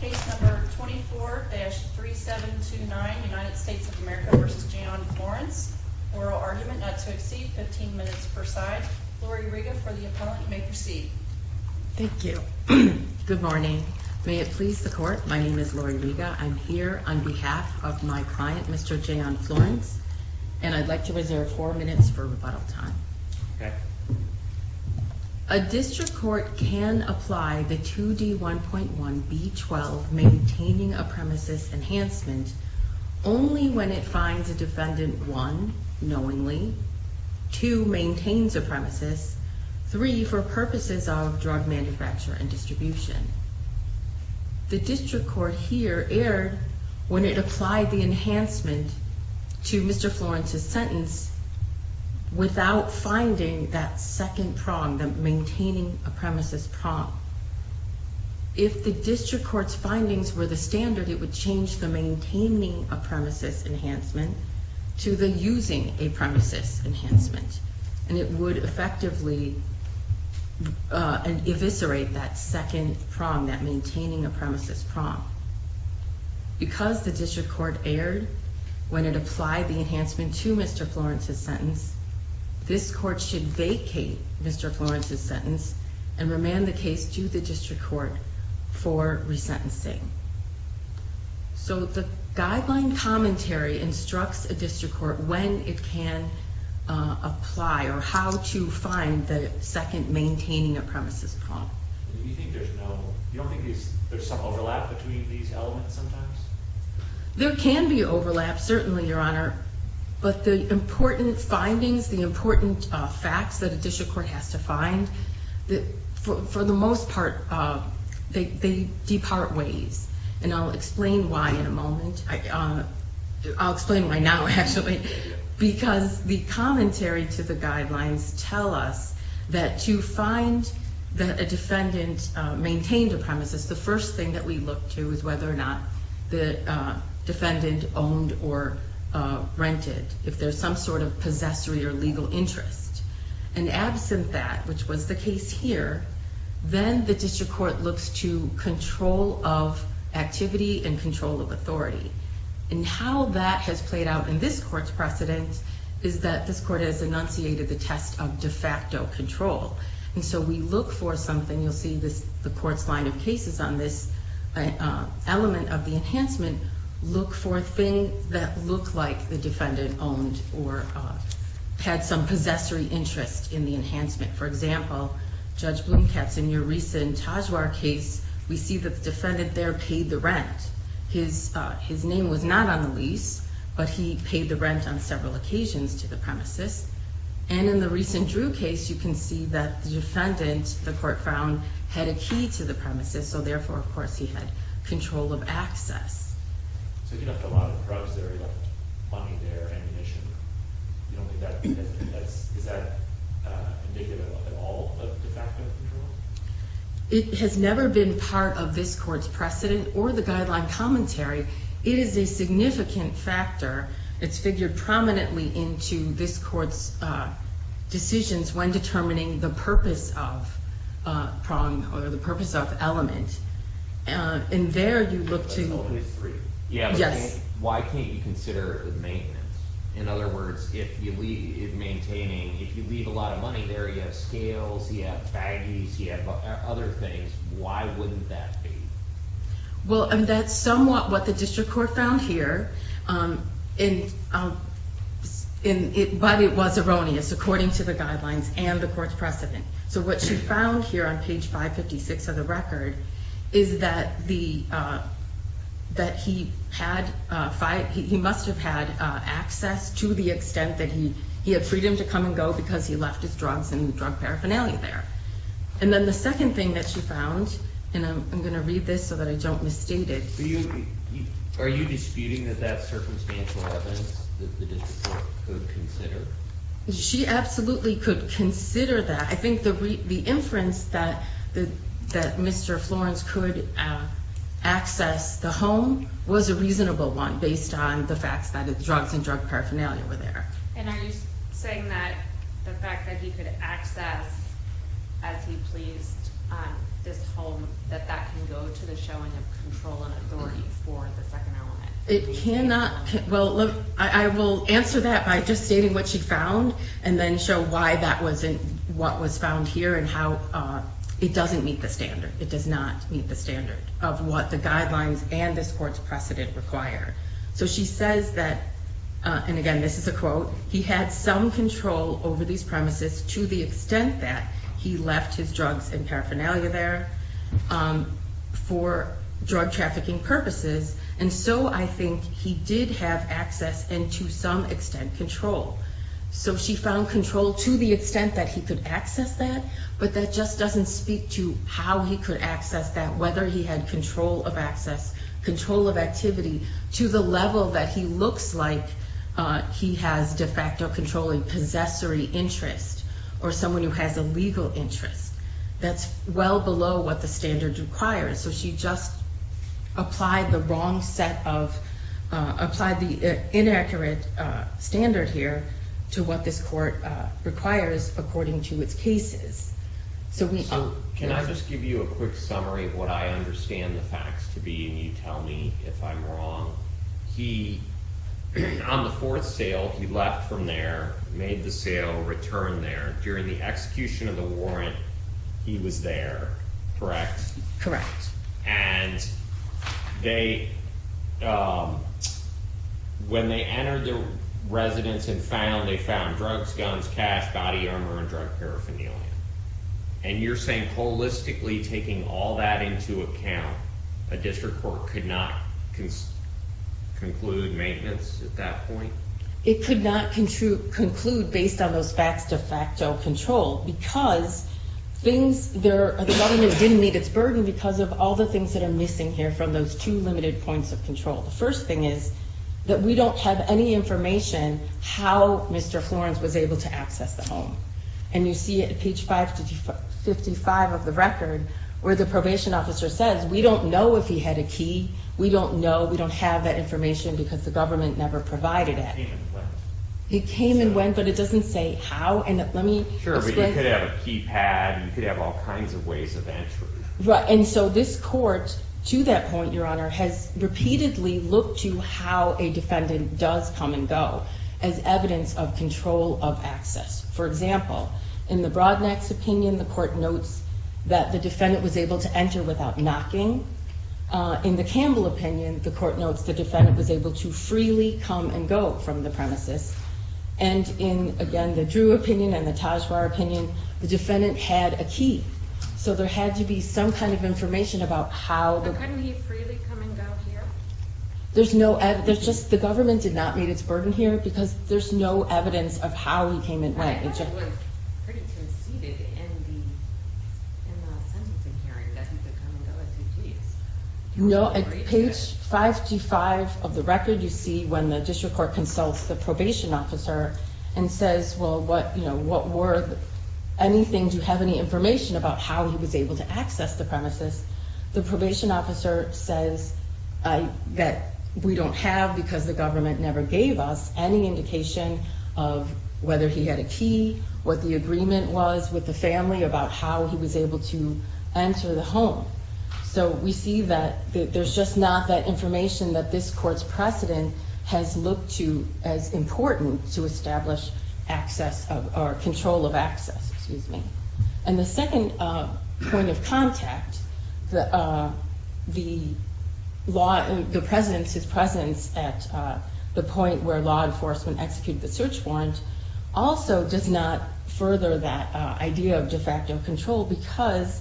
case number 24-3729 United States of America v. Jayon Florence, oral argument not to exceed 15 minutes per side. Lori Riga, for the appellant, you may proceed. Thank you. Good morning. May it please the court, my name is Lori Riga. I'm here on behalf of my client, Mr. Jayon Florence, and I'd like to reserve four minutes for rebuttal time. Okay. A district court can apply the 2D1.1B12 maintaining a premises enhancement only when it finds a defendant, one, knowingly, two, maintains a premises, three, for purposes of drug manufacture and distribution. The district court here erred when it applied the enhancement to Mr. Florence's sentence without finding that second prong, the maintaining a premises prong. If the district court's findings were the standard, it would change the maintaining a premises enhancement to the using a premises enhancement, and it would effectively eviscerate that second prong, that maintaining a premises prong. Because the district court erred when it applied the enhancement to Mr. Florence's sentence, this court should vacate Mr. Florence's sentence and remand the case to the district court for resentencing. So the guideline commentary instructs a district court when it can apply or how to find the second maintaining a premises prong. You don't think there's some overlap between these elements sometimes? There can be overlap, certainly, Your Honor, but the important findings, the important facts that a district court has to find, for the most part, they depart ways. And I'll explain why in a moment. I'll explain why now, actually. Because the commentary to the guidelines tell us that to find that a defendant maintained a premises, the first thing that we look to is whether or not the defendant owned or rented, if there's some sort of possessory or legal interest. And absent that, which was the case here, then the district court looks to control of activity and control of authority. And how that has played out in this court's precedent is that this court has enunciated the test of de facto control. And so we look for something, you'll see the court's line of cases on this element of the enhancement, look for things that look like the defendant owned or had some possessory interest in the enhancement. For example, Judge Blomkatz, in your recent Tajwar case, we see that the defendant there paid the rent. His name was not on the lease, but he paid the rent on several occasions to the premises. And in the recent Drew case, you can see that the defendant, the court found, had a key to the premises, so therefore, of course, he had control of access. So he left a lot of drugs there, he left money there, ammunition. Is that indicative at all of de facto control? It has never been part of this court's precedent or the guideline commentary. It is a significant factor. It's figured prominently into this court's decisions when determining the purpose of prong or the purpose of element. And there you look to... Why can't you consider maintenance? In other words, if you leave a lot of money there, you have scales, you have baggies, you have other things. Why wouldn't that be? Well, that's somewhat what the district court found here, but it was erroneous according to the guidelines and the court's precedent. So what she found here on page 556 of the record is that he must have had access to the extent that he had freedom to come and go because he left his drugs and drug paraphernalia there. And then the second thing that she found, and I'm going to read this so that I don't misstate it. Are you disputing that that's circumstantial evidence that the district court could consider? She absolutely could consider that. I think the inference that Mr. Florence could access the home was a reasonable one based on the fact that the drugs and drug paraphernalia were there. And are you saying that the fact that he could access, as he pleased, this home, that that can go to the showing of control and authority for the second element? It cannot... Well, look, I will answer that by just stating what she found and then show why that wasn't what was found here and how it doesn't meet the standard. It does not meet the standard of what the guidelines and this court's precedent require. So she says that, and again this is a quote, he had some control over these premises to the extent that he left his drugs and paraphernalia there for drug trafficking purposes. And so I think he did have access and to some extent control. So she found control to the extent that he could access that, but that just doesn't speak to how he could access that, whether he had control of access, control of activity, to the level that he looks like he has de facto controlling possessory interest or someone who has a legal interest. That's well below what the standard requires. So she just applied the wrong set of, applied the inaccurate standard here to what this court requires according to its cases. So can I just give you a quick summary of what I understand the facts to be and you tell me if I'm wrong? He, on the fourth sale, he left from there, made the sale, returned there. During the execution of the warrant, he was there, correct? Correct. And they, when they entered the residence and found, they found drugs, guns, cash, body armor, and drug paraphernalia. And you're saying holistically taking all that into account, a district court could not conclude maintenance at that point? It could not conclude based on those facts de facto control because things, the government didn't meet its burden because of all the things that are missing here from those two limited points of control. The first thing is that we don't have any information how Mr. Florence was able to access the home. And you see it at page 555 of the record where the probation officer says we don't know if he had a key. We don't know. We don't have that information because the government never provided it. He came and went. He came and went, but it doesn't say how. And let me explain. Sure, but you could have a keypad. You could have all kinds of ways of entry. Right. And so this court, to that point, Your Honor, has repeatedly looked to how a defendant does come and go as evidence of control of access. For example, in the Brodnack's opinion, the court notes that the defendant was able to enter without knocking. In the Campbell opinion, the court notes the defendant was able to freely come and go from the premises. And in, again, the Drew opinion and the Tajwar opinion, the defendant had a key. So there had to be some kind of information about how. Couldn't he freely come and go here? There's no evidence. The government did not meet its burden here because there's no evidence of how he came and went. No. At page 525 of the record, you see when the district court consults the probation officer and says, well, what were anything? Do you have any information about how he was able to access the premises? The probation officer says that we don't have, because the government never gave us any indication of whether he had a key, what the agreement was with the family about how he was able to enter the home. So we see that there's just not that information that this court's precedent has looked to as important to establish access or control of access. Excuse me. And the second point of contact, the law, the presence, his presence at the point where law enforcement executed the search warrant, also does not further that idea of de facto control because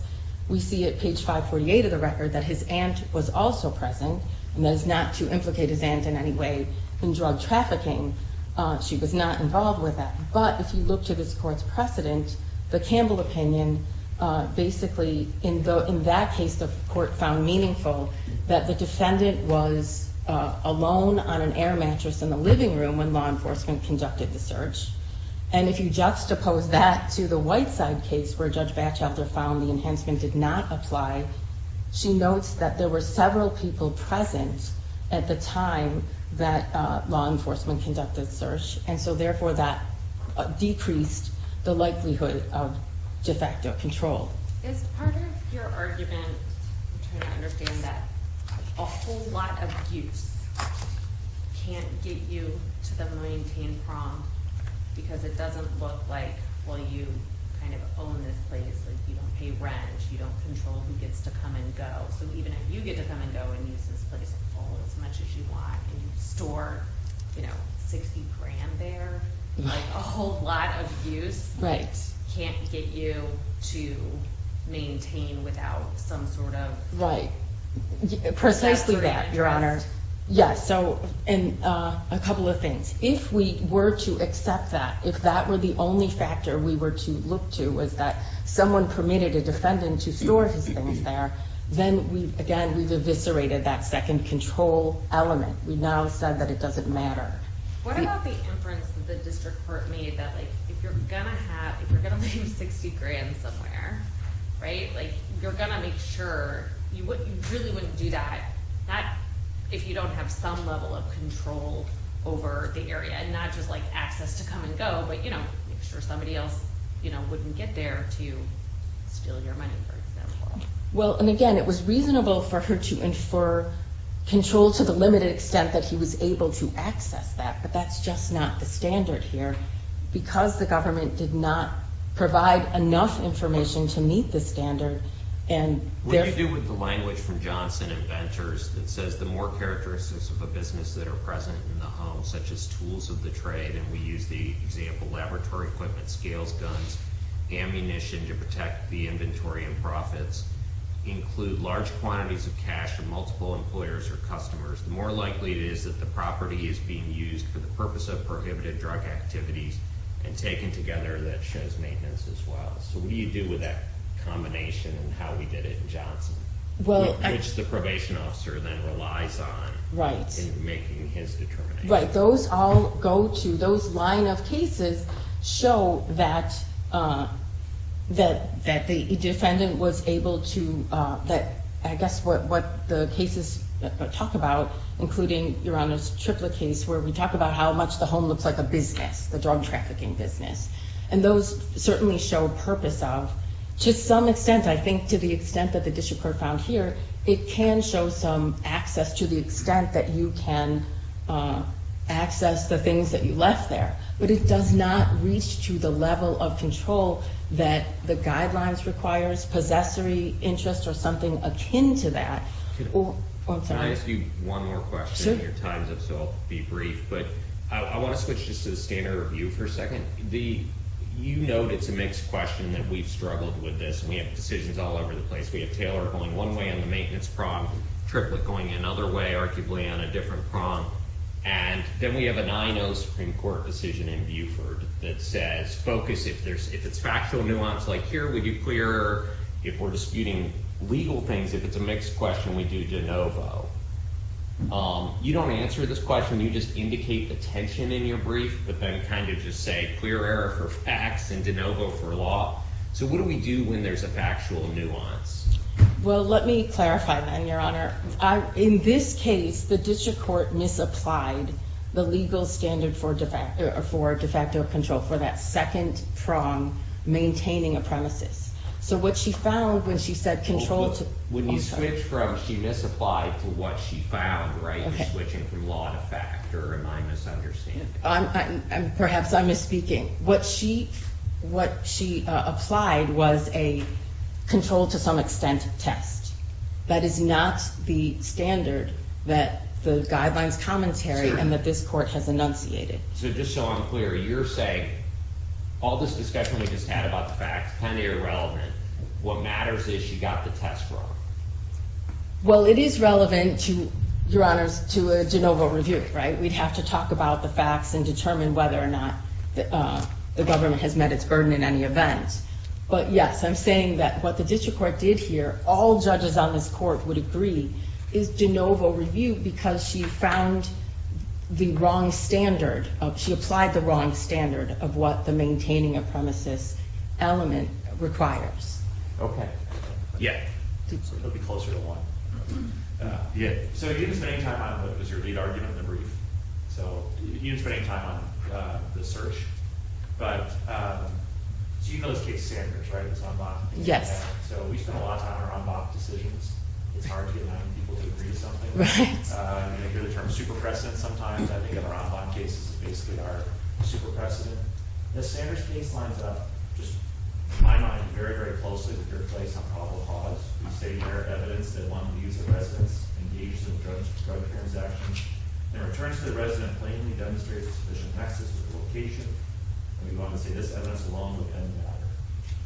we see at page 548 of the record that his aunt was also present. And that is not to implicate his aunt in any way in drug trafficking. She was not involved with that. But if you look to this court's precedent, the Campbell opinion, basically in that case, the court found meaningful that the defendant was alone on an air mattress in the living room when law enforcement conducted the search. And if you juxtapose that to the Whiteside case where Judge Batchelder found the enhancement did not apply, she notes that there were several people present at the time that law enforcement conducted the search. And so, therefore, that decreased the likelihood of de facto control. As part of your argument, I'm trying to understand that a whole lot of use can't get you to the maintained prompt because it doesn't look like, well, you kind of own this place. You don't pay rent. You don't control who gets to come and go. So even if you get to come and go and use this place as much as you want and you store, you know, 60 grand there, like a whole lot of use can't get you to maintain without some sort of… Right. Precisely that, Your Honor. Yes. So, and a couple of things. If we were to accept that, if that were the only factor we were to look to was that someone permitted a defendant to store his things there, then, again, we've eviscerated that second control element. We've now said that it doesn't matter. What about the inference that the district court made that, like, if you're going to have… if you're going to leave 60 grand somewhere, right, like, you're going to make sure you really wouldn't do that, not if you don't have some level of control over the area and not just, like, access to come and go, but, you know, make sure somebody else, you know, wouldn't get there to steal your money, for example. Well, and, again, it was reasonable for her to infer control to the limited extent that he was able to access that, but that's just not the standard here because the government did not provide enough information to meet the standard and… What do you do with the language from Johnson and Ventures that says, the more characteristics of a business that are present in the home, such as tools of the trade, and we use the example laboratory equipment, scales, guns, ammunition to protect the inventory and profits, include large quantities of cash from multiple employers or customers, the more likely it is that the property is being used for the purpose of prohibited drug activities and taken together that shows maintenance as well? So what do you do with that combination and how we did it in Johnson, which the probation officer then relies on in making his determination? Right, those all go to, those line of cases show that the defendant was able to, that I guess what the cases talk about, including Your Honor's Triplett case, where we talk about how much the home looks like a business, the drug trafficking business, and those certainly show purpose of, to some extent, I think to the extent that the district court found here, it can show some access to the extent that you can access the things that you left there, but it does not reach to the level of control that the guidelines requires, possessory interest or something akin to that. Can I ask you one more question? Sure. Your time's up, so I'll be brief, but I want to switch just to the standard review for a second. The, you note it's a mixed question that we've struggled with this and we have decisions all over the place. We have Taylor going one way on the maintenance prompt, Triplett going another way, arguably on a different prompt, and then we have a 9-0 Supreme Court decision in Buford that says focus, if there's, if it's factual nuance, like here we do clear error, if we're disputing legal things, if it's a mixed question, we do de novo. You don't answer this question, you just indicate the tension in your brief, but then kind of just say clear error for facts and de novo for law. So what do we do when there's a factual nuance? Well, let me clarify that, Your Honor. In this case, the district court misapplied the legal standard for de facto control for that second prompt, maintaining a premises. So what she found when she said control to- When you switch from she misapplied to what she found, right? You're switching from law to fact, or am I misunderstanding? Perhaps I'm misspeaking. What she applied was a control to some extent test. That is not the standard that the guidelines commentary and that this court has enunciated. So just so I'm clear, you're saying all this discussion we just had about the facts, kind of irrelevant, what matters is she got the test wrong. Well, it is relevant to, Your Honors, to a de novo review, right? We'd have to talk about the facts and determine whether or not the government has met its burden in any event. But, yes, I'm saying that what the district court did here, all judges on this court would agree, is de novo review because she found the wrong standard. She applied the wrong standard of what the maintaining a premises element requires. Okay. Yeah. It'll be closer to one. Yeah. So you didn't spend any time on what was your lead argument in the brief. So you didn't spend any time on the search. But so you know this case, Sanders, right? It's en bas. Yes. So we spend a lot of time on our en bas decisions. It's hard to get 90 people to agree to something. Right. You hear the term super precedent sometimes. I think our en bas cases basically are super precedent. The Sanders case lines up, just in my mind, very, very closely with your case on probable cause. We say there are evidence that one of these residents engaged in a drug transaction and returns to the resident plainly demonstrates sufficient access to the location. And we want to say this evidence alone would end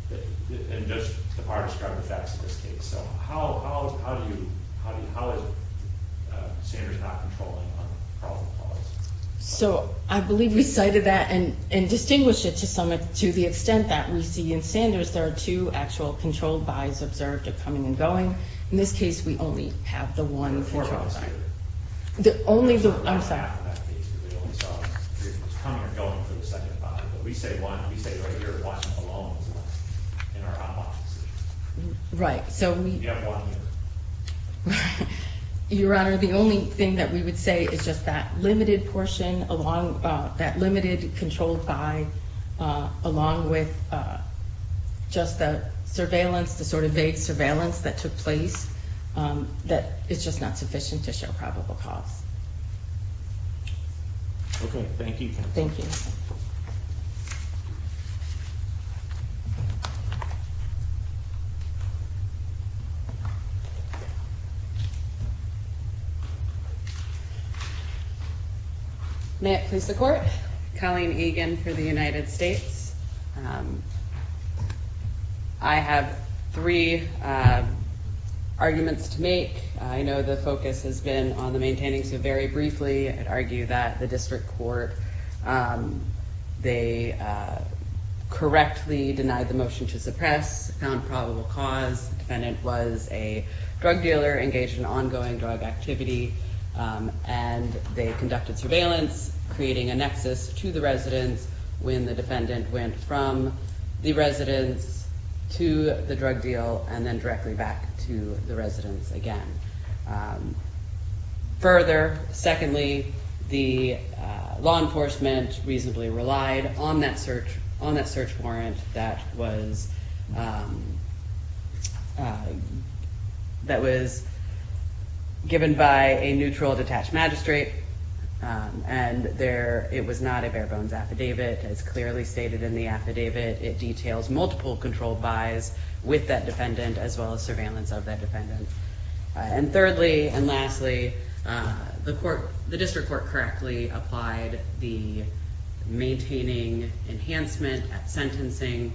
the matter. And just the far described effects of this case. So how is Sanders not controlling on probable cause? So I believe we cited that and distinguished it to the extent that we see in Sanders there are two actual controlled by's observed of coming and going. In this case, we only have the one controlled by. Only the one. I'm sorry. We only saw coming or going for the second by. But we say one. We say right here one alone in our en bas decisions. Right. So we. We have one here. Your Honor, the only thing that we would say is just that limited portion, that limited controlled by, along with just the surveillance, the sort of vague surveillance that took place, that it's just not sufficient to show probable cause. Okay. Thank you. Thank you. May it please the court. Colleen Egan for the United States. I have three arguments to make. I know the focus has been on the maintaining. So very briefly, I'd argue that the district court, they correctly denied the motion to suppress. Found probable cause. The defendant was a drug dealer engaged in ongoing drug activity. And they conducted surveillance, creating a nexus to the residence when the defendant went from the residence to the drug deal and then directly back to the residence again. Further, secondly, the law enforcement reasonably relied on that search warrant that was given by a neutral detached magistrate. And it was not a bare bones affidavit. It's clearly stated in the affidavit. It details multiple controlled bys with that defendant as well as surveillance of that defendant. And thirdly and lastly, the court, the district court correctly applied the maintaining enhancement sentencing.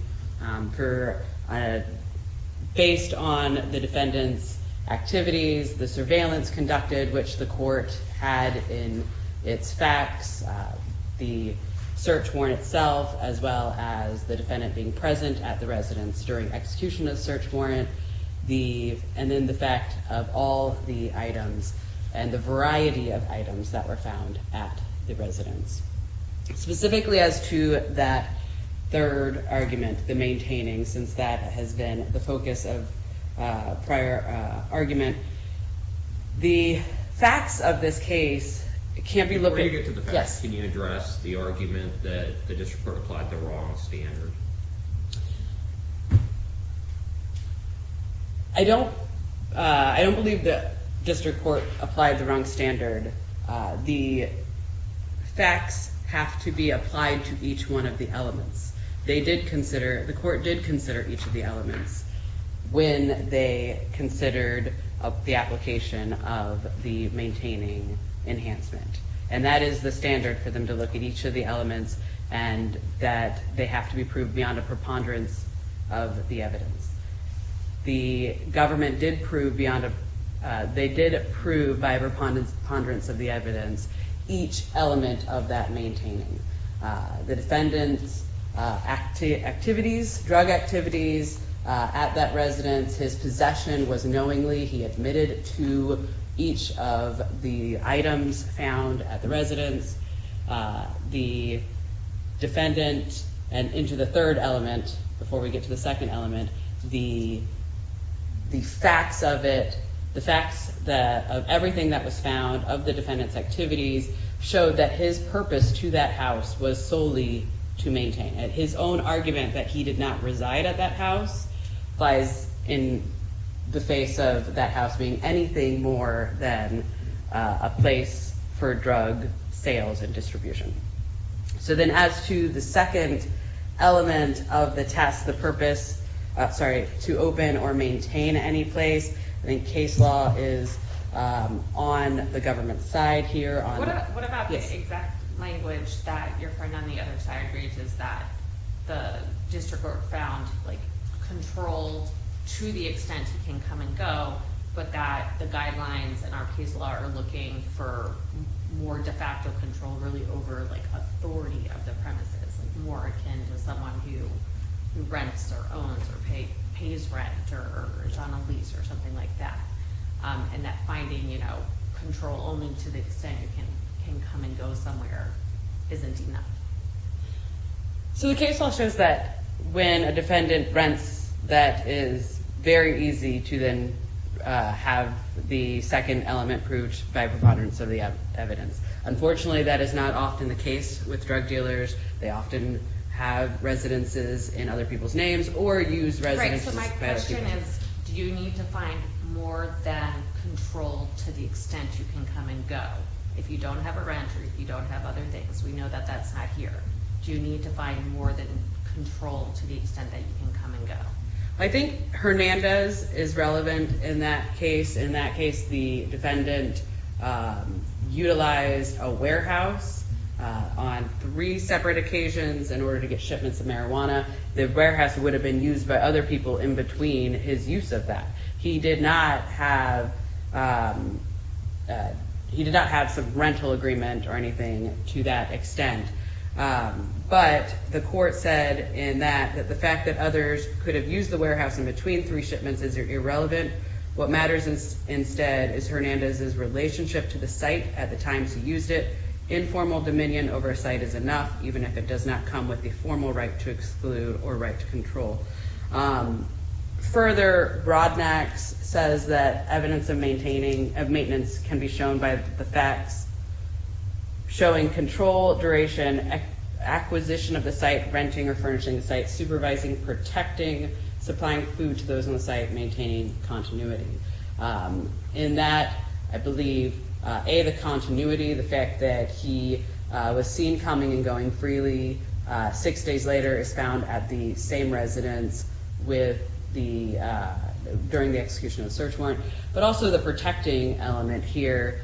Based on the defendant's activities, the surveillance conducted, which the court had in its facts, the search warrant itself as well as the defendant being present at the residence during execution of search warrant, and then the fact of all the items and the variety of items that were found at the residence. Specifically as to that third argument, the maintaining, since that has been the focus of prior argument, the facts of this case can't be looked at. Before you get to the facts, can you address the argument that the district court applied the wrong standard? I don't believe that district court applied the wrong standard. The facts have to be applied to each one of the elements. They did consider, the court did consider each of the elements when they considered the application of the maintaining enhancement. And that is the standard for them to look at each of the elements and that they have to be proved beyond a preponderance of the evidence. The government did prove beyond, they did prove by preponderance of the evidence each element of that maintaining. The defendant's activities, drug activities at that residence, his possession was knowingly, he admitted to each of the items found at the residence. The defendant, and into the third element, before we get to the second element, the facts of it, the facts of everything that was found of the defendant's activities showed that his purpose to that house was solely to maintain it. His own argument that he did not reside at that house lies in the face of that house being anything more than a place for drug sales and distribution. So then as to the second element of the test, the purpose, sorry, to open or maintain any place, I think case law is on the government's side here. What about the exact language that you're finding on the other side, Grace, is that the district court found like controlled to the extent he can come and go, but that the guidelines in our case law are looking for more de facto control really over like authority of the premises, like more akin to someone who rents or owns or pays rent or is on a lease or something like that. And that finding control only to the extent you can come and go somewhere isn't enough. So the case law shows that when a defendant rents, that is very easy to then have the second element proved by preponderance of the evidence. Unfortunately, that is not often the case with drug dealers. They often have residences in other people's names or use residences. My question is, do you need to find more than control to the extent you can come and go? If you don't have a rent or if you don't have other things, we know that that's not here. Do you need to find more than control to the extent that you can come and go? I think Hernandez is relevant in that case. In that case, the defendant utilized a warehouse on three separate occasions in order to get shipments of marijuana. The warehouse would have been used by other people in between his use of that. He did not have he did not have some rental agreement or anything to that extent. But the court said in that the fact that others could have used the warehouse in between three shipments is irrelevant. What matters is instead is Hernandez's relationship to the site at the time he used it. Informal dominion over a site is enough, even if it does not come with the formal right to exclude or right to control. Further, Broadnax says that evidence of maintaining of maintenance can be shown by the facts showing control, duration, acquisition of the site, renting or furnishing the site, supervising, protecting, supplying food to those on the site, maintaining continuity. In that, I believe a the continuity, the fact that he was seen coming and going freely six days later is found at the same residence with the during the execution of search warrant. But also the protecting element here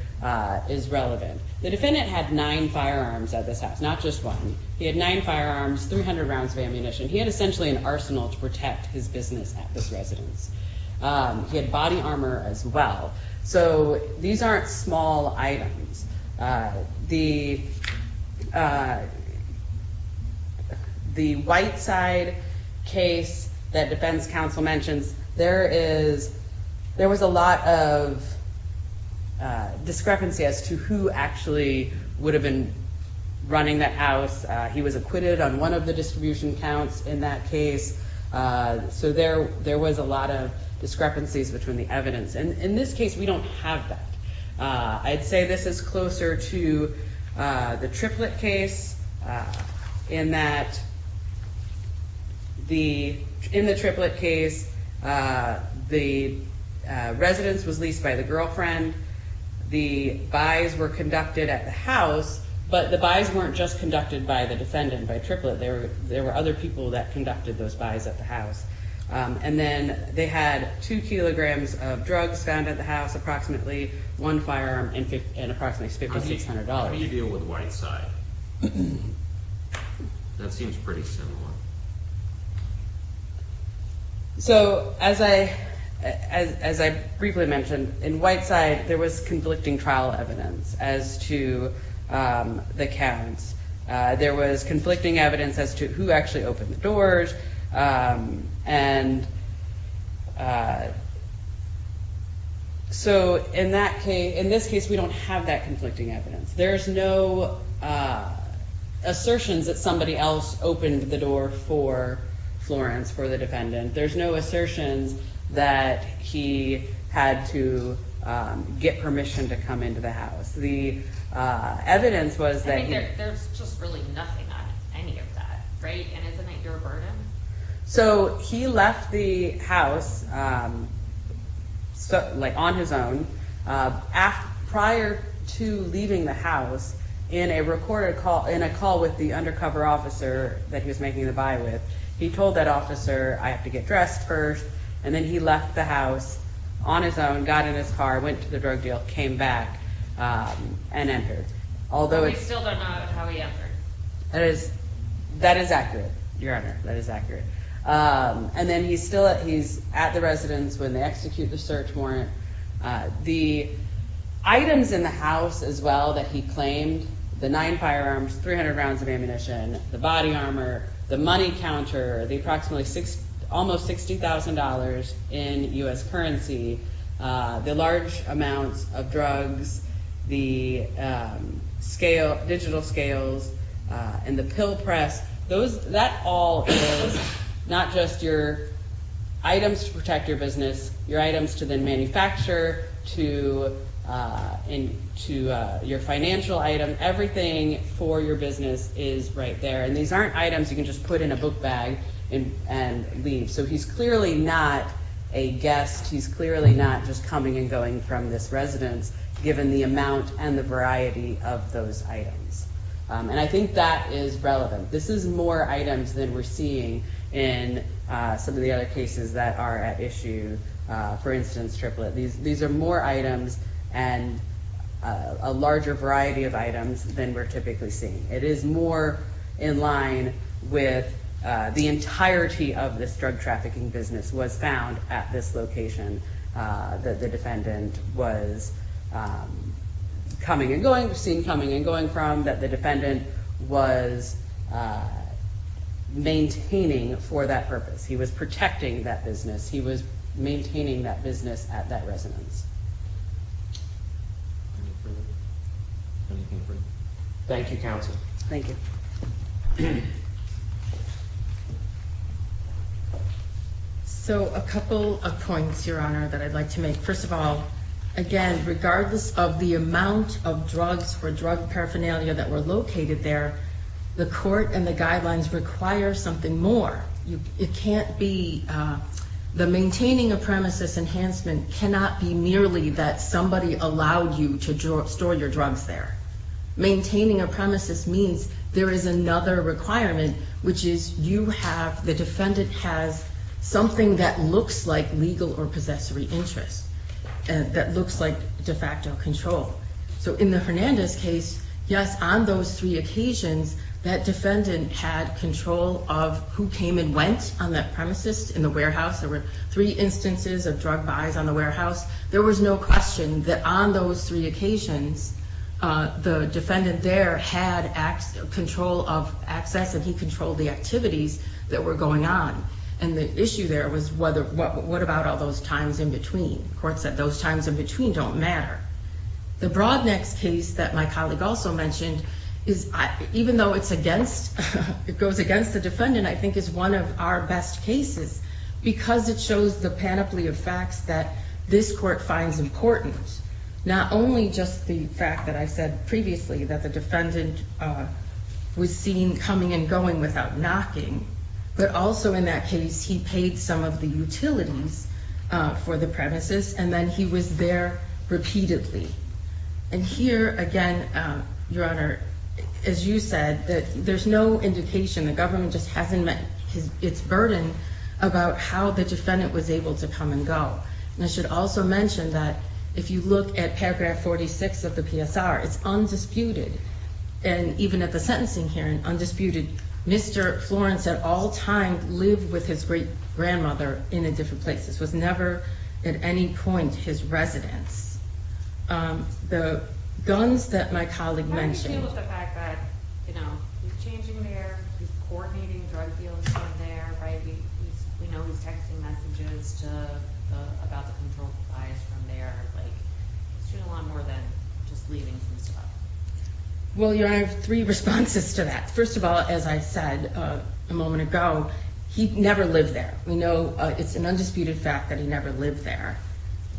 is relevant. The defendant had nine firearms at this house, not just one. He had nine firearms, 300 rounds of ammunition. He had essentially an arsenal to protect his business at this residence. He had body armor as well. So these aren't small items. The the white side case that defense counsel mentions, there is there was a lot of discrepancy as to who actually would have been running that house. He was acquitted on one of the distribution counts in that case. So there there was a lot of discrepancies between the evidence. And in this case, we don't have that. I'd say this is closer to the triplet case in that. The in the triplet case, the residence was leased by the girlfriend. The buys were conducted at the house, but the buys weren't just conducted by the defendant, by triplet. There were other people that conducted those buys at the house. And then they had two kilograms of drugs found at the house, approximately one firearm and approximately fifty six hundred dollars. How do you deal with the white side? That seems pretty similar. So as I as I briefly mentioned, in white side, there was conflicting trial evidence as to the counts. There was conflicting evidence as to who actually opened the doors. And so in that case, in this case, we don't have that conflicting evidence. There's no assertions that somebody else opened the door for Florence, for the defendant. There's no assertions that he had to get permission to come into the house. The evidence was that there's just really nothing on any of that. Right. And isn't it your burden? So he left the house like on his own after prior to leaving the house in a recorded call in a call with the undercover officer that he was making the buy with. He told that officer, I have to get dressed first. And then he left the house on his own, got in his car, went to the drug deal, came back and entered. Although I still don't know how he entered. That is accurate. Your Honor, that is accurate. And then he's still at he's at the residence when they execute the search warrant. The items in the house as well that he claimed, the nine firearms, 300 rounds of ammunition, the body armor, the money counter, the approximately six, almost $60,000 in U.S. currency. The large amounts of drugs, the scale, digital scales and the pill press. Those that all is not just your items to protect your business, your items to then manufacture to into your financial item. Everything for your business is right there. And these aren't items you can just put in a book bag and leave. So he's clearly not a guest. He's clearly not just coming and going from this residence, given the amount and the variety of those items. And I think that is relevant. This is more items than we're seeing in some of the other cases that are at issue. For instance, triplet. These are more items and a larger variety of items than we're typically seeing. It is more in line with the entirety of this drug trafficking business was found at this location. The defendant was coming and going, seen coming and going from that. The defendant was maintaining for that purpose. He was protecting that business. He was maintaining that business at that residence. Thank you, counsel. Thank you. So a couple of points, Your Honor, that I'd like to make. First of all, again, regardless of the amount of drugs or drug paraphernalia that were located there, the court and the guidelines require something more. It can't be the maintaining a premises enhancement cannot be merely that somebody allowed you to store your drugs there. Maintaining a premises means there is another requirement, which is you have, the defendant has something that looks like legal or possessory interest. That looks like de facto control. So in the Hernandez case, yes, on those three occasions, that defendant had control of who came and went on that premises in the warehouse. There were three instances of drug buys on the warehouse. There was no question that on those three occasions, the defendant there had control of access and he controlled the activities that were going on. And the issue there was what about all those times in between? The court said those times in between don't matter. The Broadnecks case that my colleague also mentioned is, even though it's against, it goes against the defendant, I think is one of our best cases, because it shows the panoply of facts that this court finds important. Not only just the fact that I said previously that the defendant was seen coming and going without knocking, but also in that case, he paid some of the utilities for the premises and then he was there repeatedly. And here again, Your Honor, as you said, that there's no indication. The government just hasn't met its burden about how the defendant was able to come and go. And I should also mention that if you look at paragraph 46 of the PSR, it's undisputed. And even at the sentencing hearing, undisputed. Mr. Florence at all times lived with his great grandmother in a different place. This was never at any point his residence. The guns that my colleague mentioned. You know, he's changing there. He's coordinating drug deals from there. We know he's texting messages about the controlled supplies from there. It's doing a lot more than just leaving some stuff. Well, Your Honor, I have three responses to that. First of all, as I said a moment ago, he never lived there. We know it's an undisputed fact that he never lived there.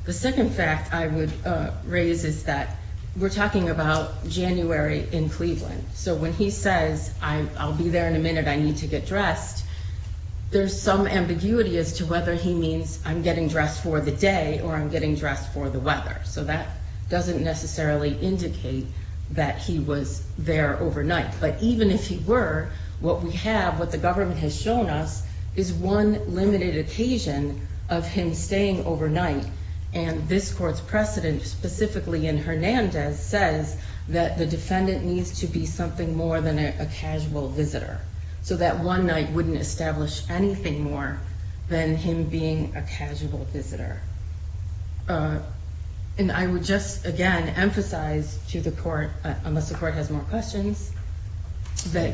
The second fact I would raise is that we're talking about January in Cleveland. So when he says, I'll be there in a minute, I need to get dressed, there's some ambiguity as to whether he means I'm getting dressed for the day or I'm getting dressed for the weather. So that doesn't necessarily indicate that he was there overnight. But even if he were, what we have, what the government has shown us, is one limited occasion of him staying overnight. And this court's precedent, specifically in Hernandez, says that the defendant needs to be something more than a casual visitor. So that one night wouldn't establish anything more than him being a casual visitor. And I would just, again, emphasize to the court, unless the court has more questions, that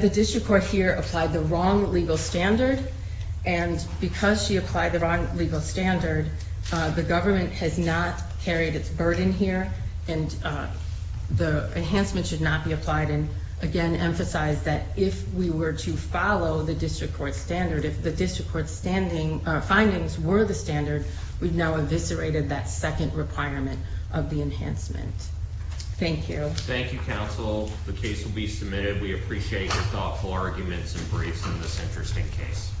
the district court here applied the wrong legal standard. And because she applied the wrong legal standard, the government has not carried its burden here. And the enhancement should not be applied. And again, emphasize that if we were to follow the district court standard, if the district court findings were the standard, we've now eviscerated that second requirement of the enhancement. Thank you. Thank you, counsel. The case will be submitted. We appreciate your thoughtful arguments and briefs on this interesting case.